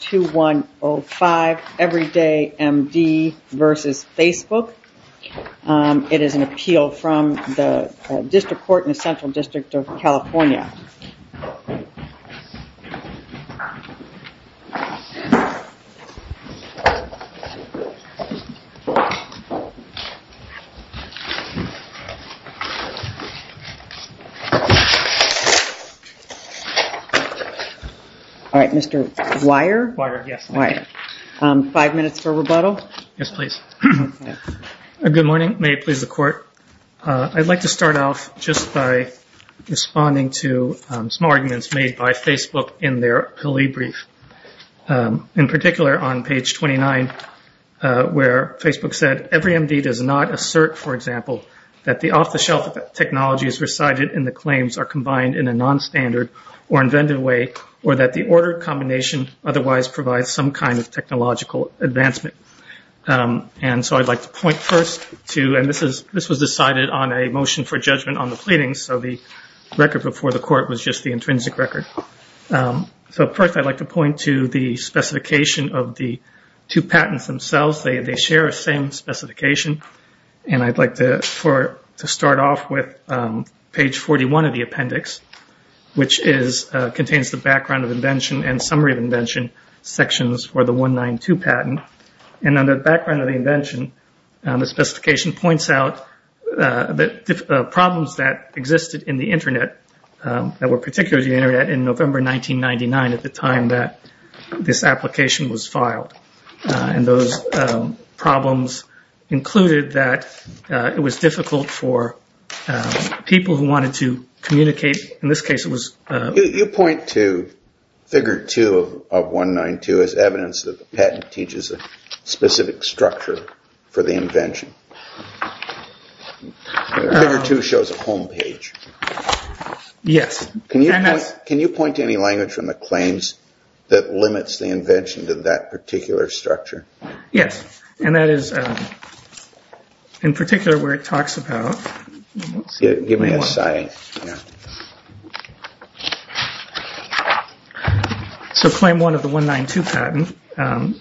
2105 Everyday MD v. Facebook. It is an appeal from the District Court in the Central District of California. All right, Mr. Weier. Weier, yes. Five minutes for rebuttal. Yes, please. Good morning. May it please the court. I'd like to start off just by responding to some arguments made by Facebook in their appealee brief, in particular on page 29 where Facebook said, EveryMD does not assert, for example, that the off-the-shelf technologies recited in the claims are combined in a non-standard or inventive way or that the order combination otherwise provides some kind of technological advancement. This was decided on a motion for judgment on the pleadings, so the record before the court was just the intrinsic record. First, I'd like to point to the specification of the two patents themselves. They share the same specification. I'd like to start off with page 41 of the appendix, which contains the background of invention and summary of invention sections for the 192 patent. In the background of the invention, the specification points out the problems that existed in the Internet that were particular to the Internet in November 1999 at the time that this application was filed. Those problems included that it was difficult for people who wanted to communicate. You point to figure 2 of 192 as evidence that the patent teaches a specific structure for the invention. Figure 2 shows a home page. Can you point to any language from the claims that limits the invention to that particular structure? Yes, and that is in particular where it talks about... Give me that slide. Claim 1 of the 192 patent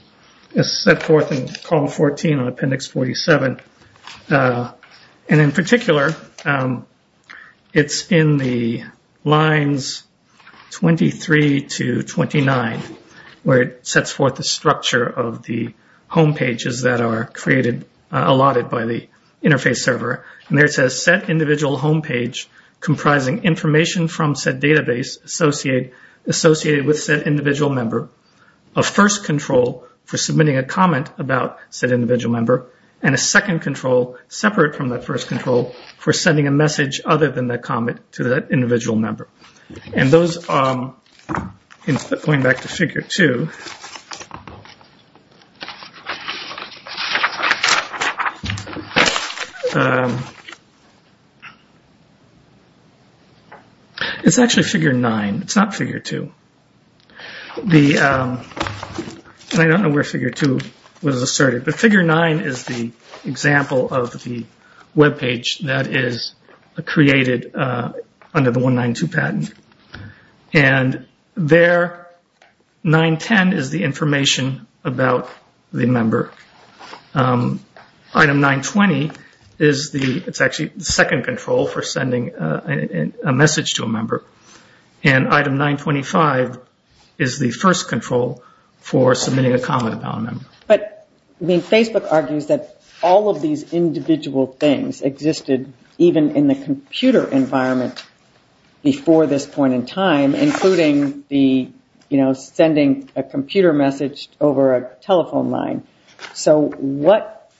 is set forth in column 14 on appendix 47. In particular, it's in the lines 23 to 29, where it sets forth the structure of the home pages that are allotted by the interface server. There it says set individual home page comprising information from said database associated with said individual member, a first control for submitting a comment about said individual member, and a second control separate from that first control for sending a message other than that comment to that individual member. Going back to figure 2, it's actually figure 9. It's not figure 2. I don't know where figure 2 was asserted, but figure 9 is the example of the web page that is created under the 192 patent. There, 910 is the information about the member. Item 920 is the second control for sending a message to a member. And item 925 is the first control for submitting a comment about a member. But Facebook argues that all of these individual things existed even in the computer environment before this point in time, including sending a computer message over a telephone line. So what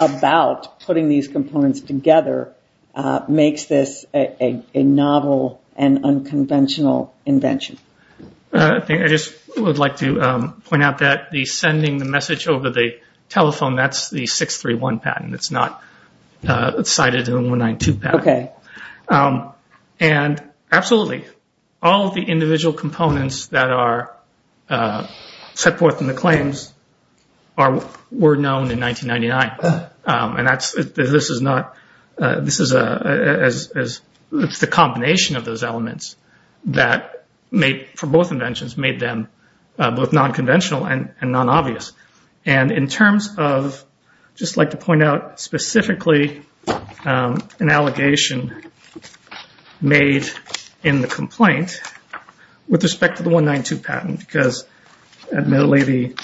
about putting these components together makes this a novel and unconventional invention? I just would like to point out that the sending the message over the telephone, that's the 631 patent. It's not cited in the 192 patent. Absolutely, all of the individual components that are set forth in the claims were known in 1999. It's the combination of those elements that, for both inventions, made them both non-conventional and non-obvious. And in terms of, I'd just like to point out specifically an allegation made in the complaint with respect to the 192 patent, because admittedly the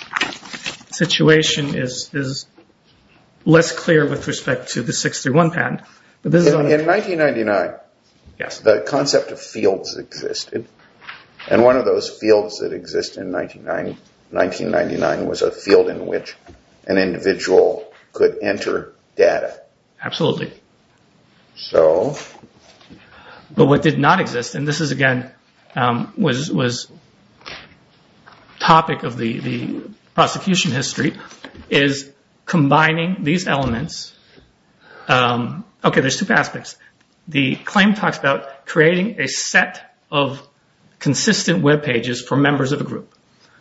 situation is less clear with respect to the 631 patent. In 1999, the concept of fields existed. And one of those fields that existed in 1999 was a field in which an individual could enter data. Absolutely. But what did not exist, and this again was a topic of the prosecution history, is combining these elements. Okay, there's two aspects. The claim talks about creating a set of consistent webpages for members of a group.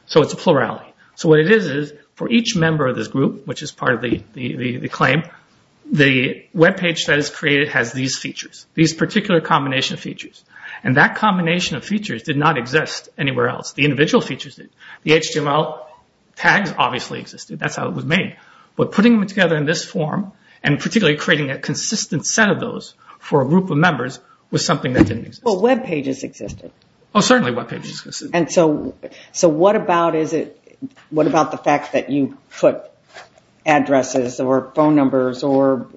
So it's a plurality. So what it is, is for each member of this group, which is part of the claim, the webpage that is created has these features, these particular combination of features. And that combination of features did not exist anywhere else. The individual features did. The HTML tags obviously existed. That's how it was made. But putting them together in this form, and particularly creating a consistent set of those for a group of members, was something that didn't exist. But webpages existed. Oh, certainly webpages existed. And so what about the fact that you put addresses or phone numbers or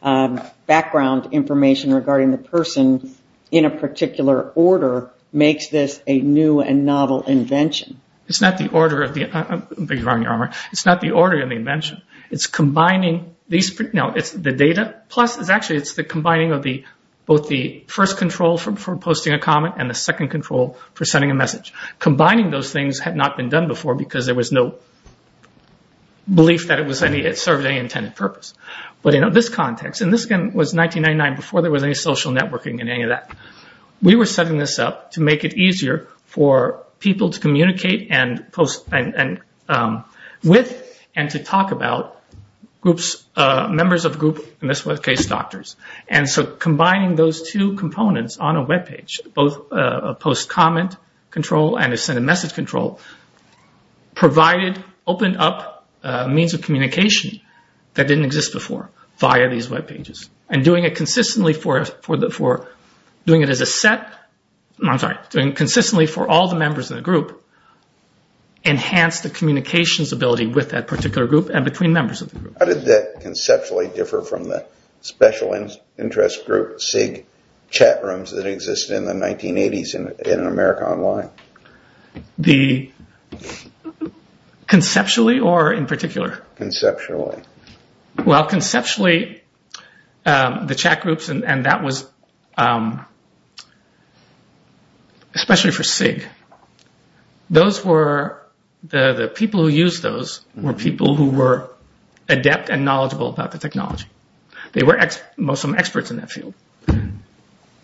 background information regarding the person in a particular order makes this a new and novel invention? It's not the order of the invention. It's combining the data. Actually, it's the combining of both the first control for posting a comment and the second control for sending a message. Combining those things had not been done before because there was no belief that it served any intended purpose. But in this context, and this was 1999, before there was any social networking in any of that, we were setting this up to make it easier for people to communicate with and to talk about members of a group, in this case doctors. And so combining those two components on a webpage, both a post-comment control and a send-a-message control, provided, opened up means of communication that didn't exist before via these webpages. And doing it consistently for all the members of the group enhanced the communications ability with that particular group and between members of the group. How did that conceptually differ from the special interest group, SIG, chat rooms that existed in the 1980s in America Online? Conceptually or in particular? Conceptually. Well, conceptually, the chat groups, and that was especially for SIG, the people who used those were people who were adept and knowledgeable about the technology. They were mostly experts in that field.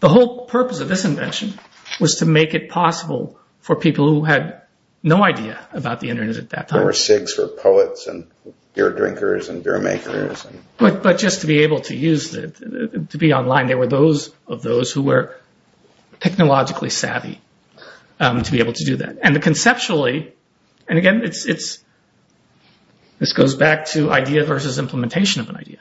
The whole purpose of this invention was to make it possible for people who had no idea about the Internet at that time. There were SIGs for poets and beer drinkers and beer makers. But just to be able to use it, to be online, there were those of those who were technologically savvy to be able to do that. And conceptually, and again, this goes back to idea versus implementation of an idea.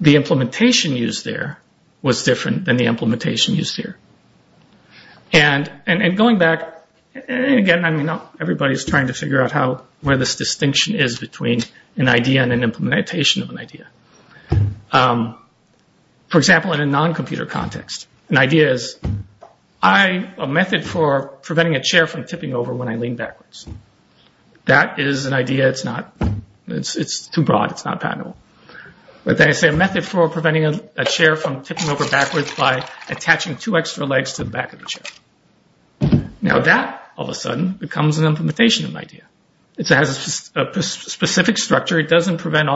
The implementation used there was different than the implementation used here. And going back, and again, everybody is trying to figure out where this distinction is between an idea and an implementation of an idea. For example, in a non-computer context, an idea is a method for preventing a chair from tipping over when I lean backwards. That is an idea. It's too broad. It's not patentable. But then I say a method for preventing a chair from tipping over backwards by attaching two extra legs to the back of the chair. Now that, all of a sudden, becomes an implementation of an idea. It has a specific structure. It doesn't preempt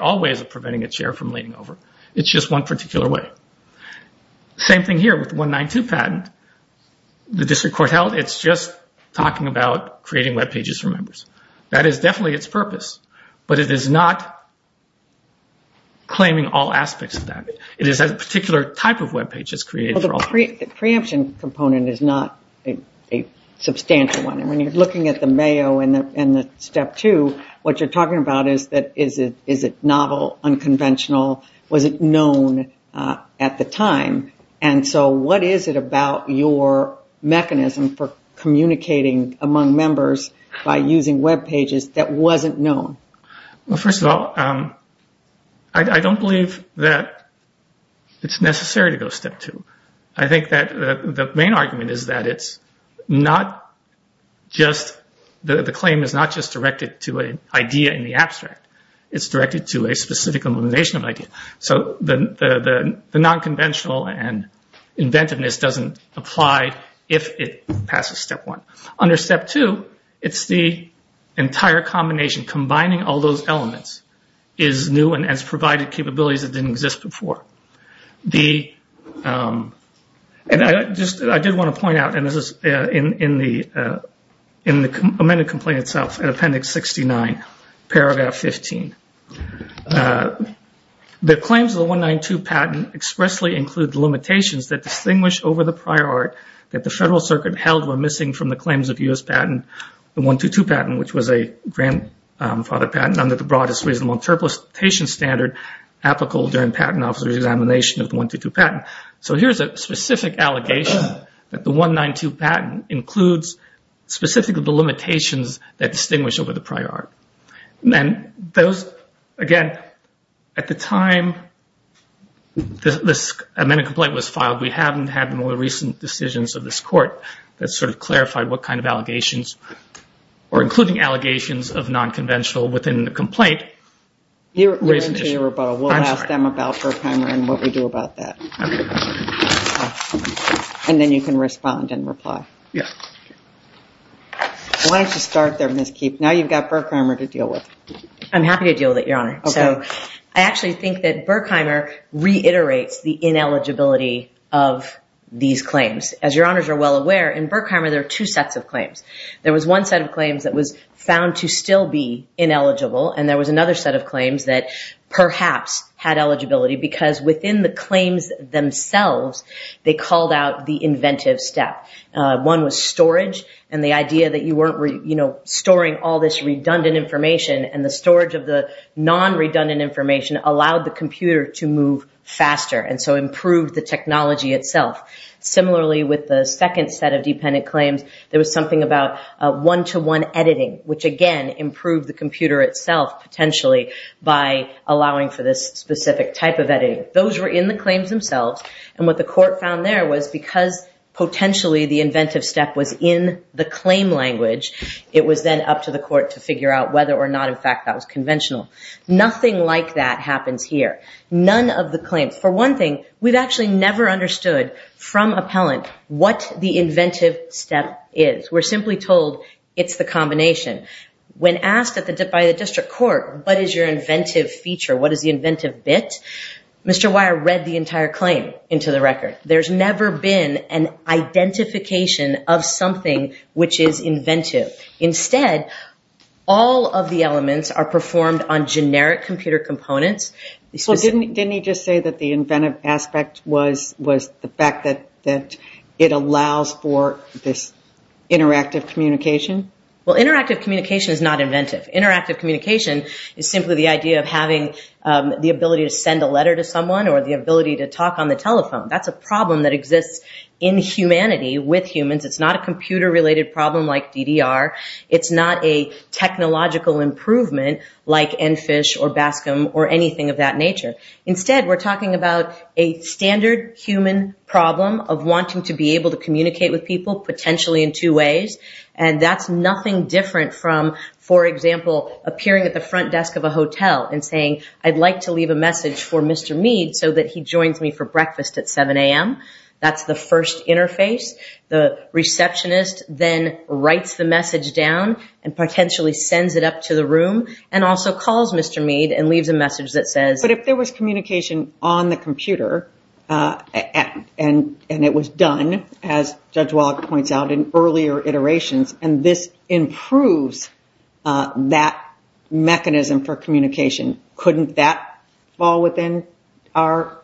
all ways of preventing a chair from leaning over. It's just one particular way. Same thing here with the 192 patent. The district court held it's just talking about creating web pages for members. That is definitely its purpose. But it is not claiming all aspects of that. It is a particular type of web page that's created. The preemption component is not a substantial one. And when you're looking at the Mayo and the Step 2, what you're talking about is that is it novel, unconventional, was it known at the time? What is it about your mechanism for communicating among members by using web pages that wasn't known? First of all, I don't believe that it's necessary to go Step 2. I think that the main argument is that the claim is not just directed to an idea in the abstract. It's directed to a specific implementation of an idea. So the nonconventional and inventiveness doesn't apply if it passes Step 1. Under Step 2, it's the entire combination. Combining all those elements is new and has provided capabilities that didn't exist before. I did want to point out, and this is in the amended complaint itself, in Appendix 69, Paragraph 15. The claims of the 192 patent expressly include the limitations that distinguish over the prior art that the Federal Circuit held were missing from the claims of U.S. patent, the 122 patent, which was a grandfather patent under the broadest reasonable interpretation standard applicable during patent officer examination of the 122 patent. So here's a specific allegation that the 192 patent includes specifically the limitations that distinguish over the prior art. Again, at the time this amended complaint was filed, we haven't had more recent decisions of this Court that sort of clarified what kind of allegations, or including allegations of nonconventional within the complaint. You're into your rebuttal. I'm sorry. We'll ask them about Berkrammer and what we do about that. Okay. And then you can respond and reply. Yes. Why don't you start there, Ms. Keefe? Now you've got Berkrammer to deal with. I'm happy to deal with it, Your Honor. Okay. So I actually think that Berkrammer reiterates the ineligibility of these claims. As Your Honors are well aware, in Berkrammer there are two sets of claims. There was one set of claims that was found to still be ineligible, and there was another set of claims that perhaps had eligibility because within the claims themselves they called out the inventive step. One was storage and the idea that you weren't storing all this redundant information, and the storage of the non-redundant information allowed the computer to move faster and so improve the technology itself. Similarly, with the second set of dependent claims, there was something about one-to-one editing, which again improved the computer itself potentially by allowing for this specific type of editing. Those were in the claims themselves, and what the court found there was because potentially the inventive step was in the claim language, it was then up to the court to figure out whether or not, in fact, that was conventional. Nothing like that happens here. None of the claims. For one thing, we've actually never understood from appellant what the inventive step is. We're simply told it's the combination. When asked by the district court, what is your inventive feature, what is the inventive bit, Mr. Weyer read the entire claim into the record. There's never been an identification of something which is inventive. Instead, all of the elements are performed on generic computer components. Didn't he just say that the inventive aspect was the fact that it allows for this interactive communication? Well, interactive communication is not inventive. Interactive communication is simply the idea of having the ability to send a letter to someone or the ability to talk on the telephone. That's a problem that exists in humanity with humans. It's not a computer-related problem like DDR. It's not a technological improvement like EnFish or Bascom or anything of that nature. Instead, we're talking about a standard human problem of wanting to be able to communicate with people, potentially in two ways, and that's nothing different from, for example, appearing at the front desk of a hotel and saying, I'd like to leave a message for Mr. Meade so that he joins me for breakfast at 7 a.m. That's the first interface. The receptionist then writes the message down and potentially sends it up to the room and also calls Mr. Meade and leaves a message that says... and this improves that mechanism for communication. Couldn't that fall within our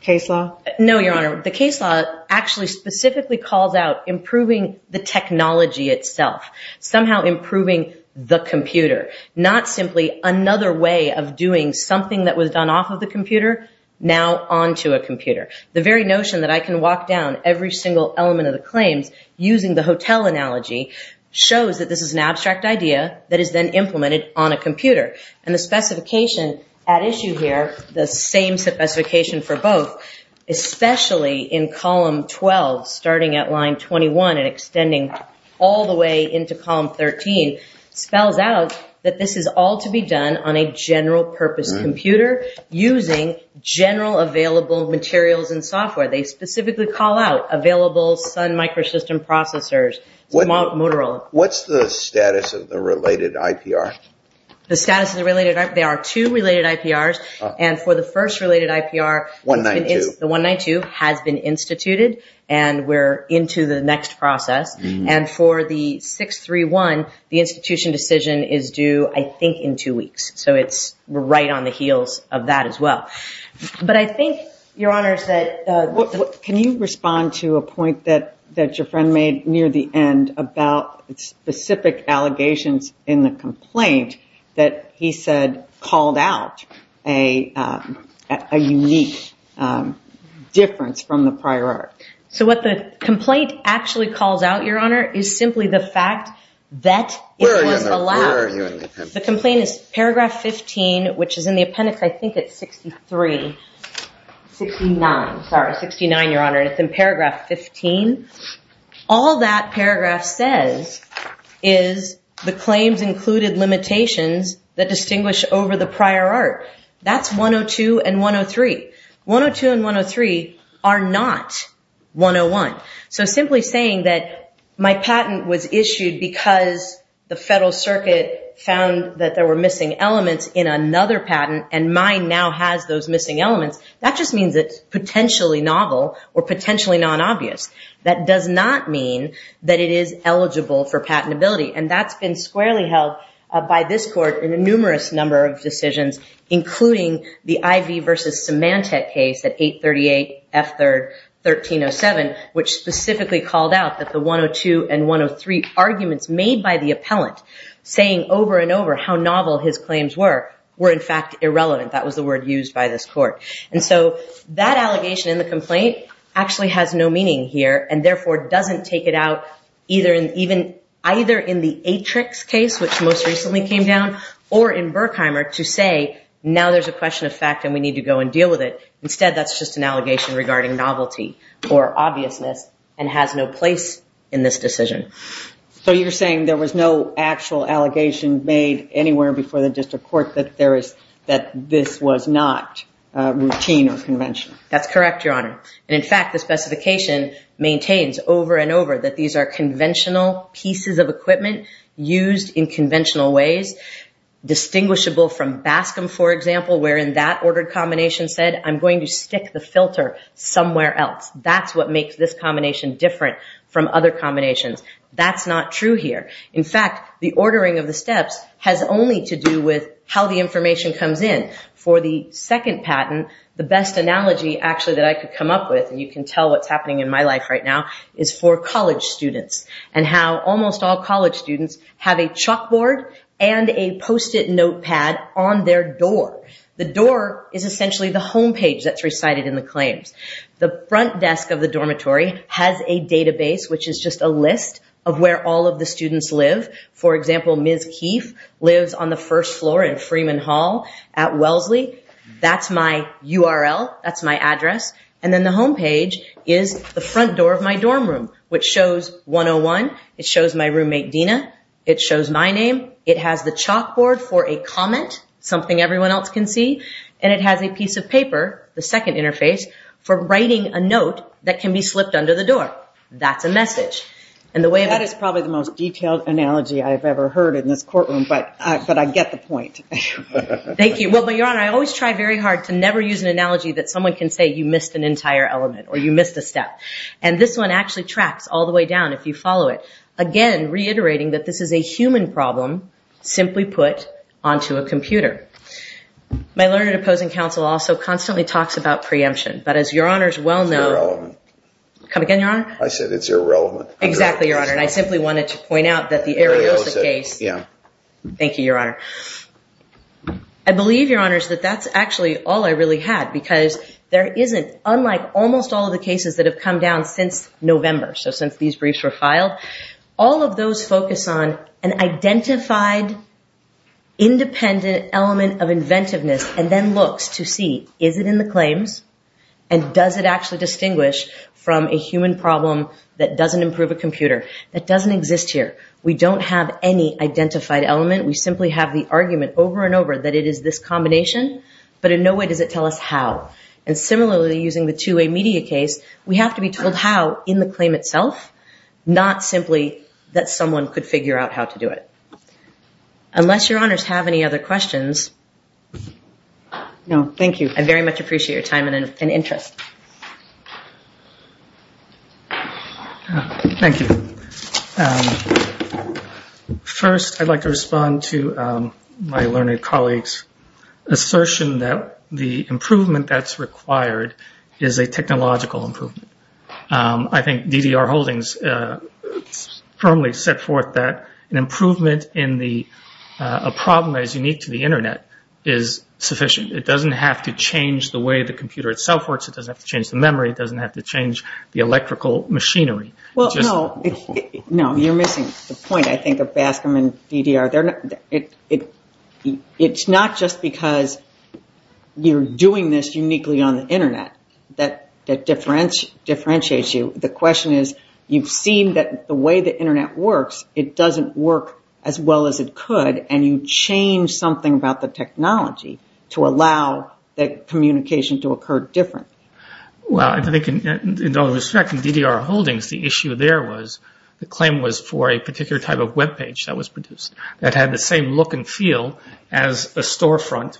case law? No, Your Honor. The case law actually specifically calls out improving the technology itself, somehow improving the computer, not simply another way of doing something that was done off of the computer now onto a computer. The very notion that I can walk down every single element of the claims using the hotel analogy shows that this is an abstract idea that is then implemented on a computer. And the specification at issue here, the same specification for both, especially in column 12, starting at line 21 and extending all the way into column 13, spells out that this is all to be done on a general-purpose computer using general available materials and software. They specifically call out available Sun Microsystem Processors, Motorola. What's the status of the related IPR? The status of the related IPR? There are two related IPRs, and for the first related IPR, the 192 has been instituted and we're into the next process. And for the 631, the institution decision is due, I think, in two weeks. So we're right on the heels of that as well. But I think, Your Honors, that... Can you respond to a point that your friend made near the end about specific allegations in the complaint that he said called out a unique difference from the prior art? So what the complaint actually calls out, Your Honor, is simply the fact that it was allowed. The complaint is paragraph 15, which is in the appendix, I think it's 63, 69. Sorry, 69, Your Honor, and it's in paragraph 15. All that paragraph says is the claims included limitations that distinguish over the prior art. That's 102 and 103. 102 and 103 are not 101. So simply saying that my patent was issued because the Federal Circuit found that there were missing elements in another patent and mine now has those missing elements, that just means it's potentially novel or potentially non-obvious. That does not mean that it is eligible for patentability, and that's been squarely held by this Court in a numerous number of decisions, including the Ivey v. Symantec case at 838 F. 3rd, 1307, which specifically called out that the 102 and 103 arguments made by the appellant saying over and over how novel his claims were, were in fact irrelevant. That was the word used by this Court. And so that allegation in the complaint actually has no meaning here and therefore doesn't take it out either in the Atrix case, which most recently came down, or in Berkheimer to say now there's a question of fact and we need to go and deal with it. Instead, that's just an allegation regarding novelty or obviousness and has no place in this decision. So you're saying there was no actual allegation made anywhere before the District Court that this was not routine or conventional? That's correct, Your Honor. And in fact, the specification maintains over and over that these are conventional pieces of equipment used in conventional ways distinguishable from Bascom, for example, where in that ordered combination said, I'm going to stick the filter somewhere else. That's what makes this combination different from other combinations. That's not true here. In fact, the ordering of the steps has only to do with how the information comes in. For the second patent, the best analogy actually that I could come up with, and you can tell what's happening in my life right now, is for college students and how almost all college students have a chalkboard and a Post-it notepad on their door. The door is essentially the homepage that's recited in the claims. The front desk of the dormitory has a database, which is just a list of where all of the students live. For example, Ms. Keefe lives on the first floor in Freeman Hall at Wellesley. And then the homepage is the front door of my dorm room, which shows 101. It shows my roommate, Dina. It shows my name. It has the chalkboard for a comment, something everyone else can see. And it has a piece of paper, the second interface, for writing a note that can be slipped under the door. That's a message. That is probably the most detailed analogy I've ever heard in this courtroom, but I get the point. Thank you. Well, Your Honor, I always try very hard to never use an analogy that someone can say you missed an entire element or you missed a step. And this one actually tracks all the way down if you follow it, again reiterating that this is a human problem simply put onto a computer. My learned opposing counsel also constantly talks about preemption, but as Your Honor is well known. It's irrelevant. Come again, Your Honor? I said it's irrelevant. Exactly, Your Honor. And I simply wanted to point out that the area was the case. Yeah. Thank you, Your Honor. I believe, Your Honor, that that's actually all I really had because there isn't, unlike almost all of the cases that have come down since November, so since these briefs were filed, all of those focus on an identified independent element of inventiveness and then looks to see is it in the claims and does it actually distinguish from a human problem that doesn't improve a computer, that doesn't exist here. We don't have any identified element. We simply have the argument over and over that it is this combination, but in no way does it tell us how. And similarly, using the two-way media case, we have to be told how in the claim itself, not simply that someone could figure out how to do it. Unless Your Honors have any other questions. No, thank you. I very much appreciate your time and interest. Thank you. First, I'd like to respond to my learned colleague's assertion that the improvement that's required is a technological improvement. I think DDR Holdings firmly set forth that an improvement in the problem that is unique to the Internet is sufficient. It doesn't have to change the way the computer itself works. It doesn't have to change the memory. It doesn't have to change the electrical machinery. Well, no, you're missing the point, I think, of Bascom and DDR. It's not just because you're doing this uniquely on the Internet that differentiates you. The question is you've seen that the way the Internet works, it doesn't work as well as it could, and you change something about the technology to allow that communication to occur differently. Well, I think in all respect, in DDR Holdings, the issue there was the claim was for a particular type of web page that was produced that had the same look and feel as a storefront.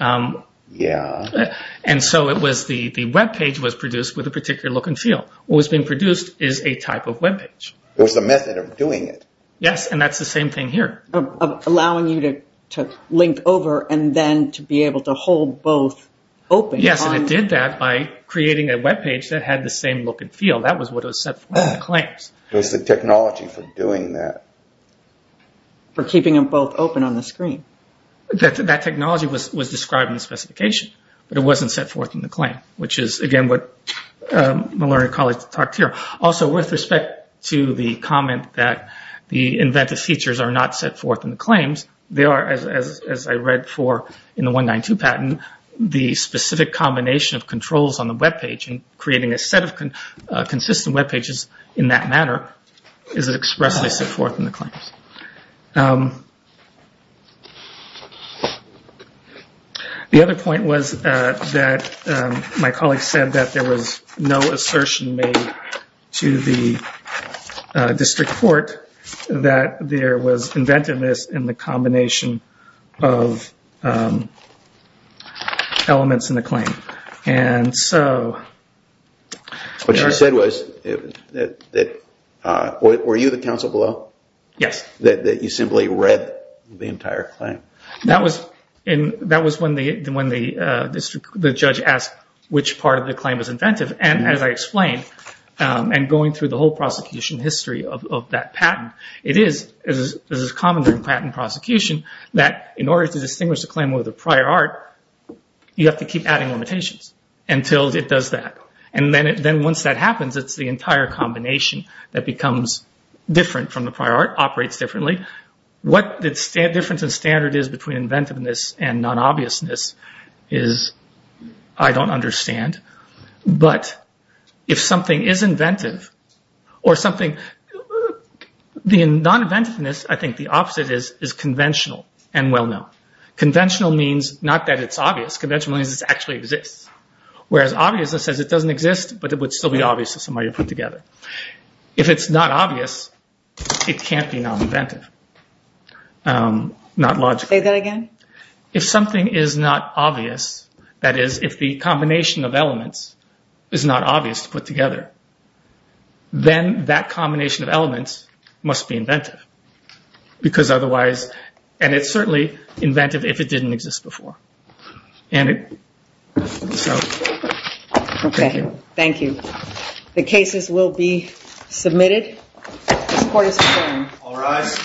Yeah. And so the web page was produced with a particular look and feel. What was being produced is a type of web page. It was the method of doing it. Yes, and that's the same thing here. Allowing you to link over and then to be able to hold both open. Yes, and it did that by creating a web page that had the same look and feel. That was what was set forth in the claims. It was the technology for doing that. For keeping them both open on the screen. That technology was described in the specification, but it wasn't set forth in the claim, which is, again, what Malaria College talked here. Also, with respect to the comment that the inventive features are not set forth in the claims, they are, as I read for in the 192 patent, the specific combination of controls on the web page and creating a set of consistent web pages in that manner is expressly set forth in the claims. The other point was that my colleague said that there was no assertion made to the district court that there was inventiveness in the combination of elements in the claim. What she said was, were you the counsel below? Yes. That you simply read the entire claim? That was when the judge asked which part of the claim was inventive. As I explained, and going through the whole prosecution history of that patent, it is common in patent prosecution that in order to distinguish a claim over the prior art, you have to keep adding limitations until it does that. Then once that happens, it's the entire combination that becomes different from the prior art, operates differently. What the difference in standard is between inventiveness and non-obviousness is I don't understand. But if something is inventive or something, the non-inventiveness, I think the opposite is, is conventional and well-known. Conventional means not that it's obvious. Conventional means it actually exists, whereas obviousness says it doesn't exist, but it would still be obvious if somebody put it together. If it's not obvious, it can't be non-inventive, not logical. Say that again. If something is not obvious, that is, if the combination of elements is not obvious to put together, then that combination of elements must be inventive because otherwise, and it's certainly inventive if it didn't exist before. And so, thank you. Okay. Thank you. The cases will be submitted. The court is adjourned. All rise.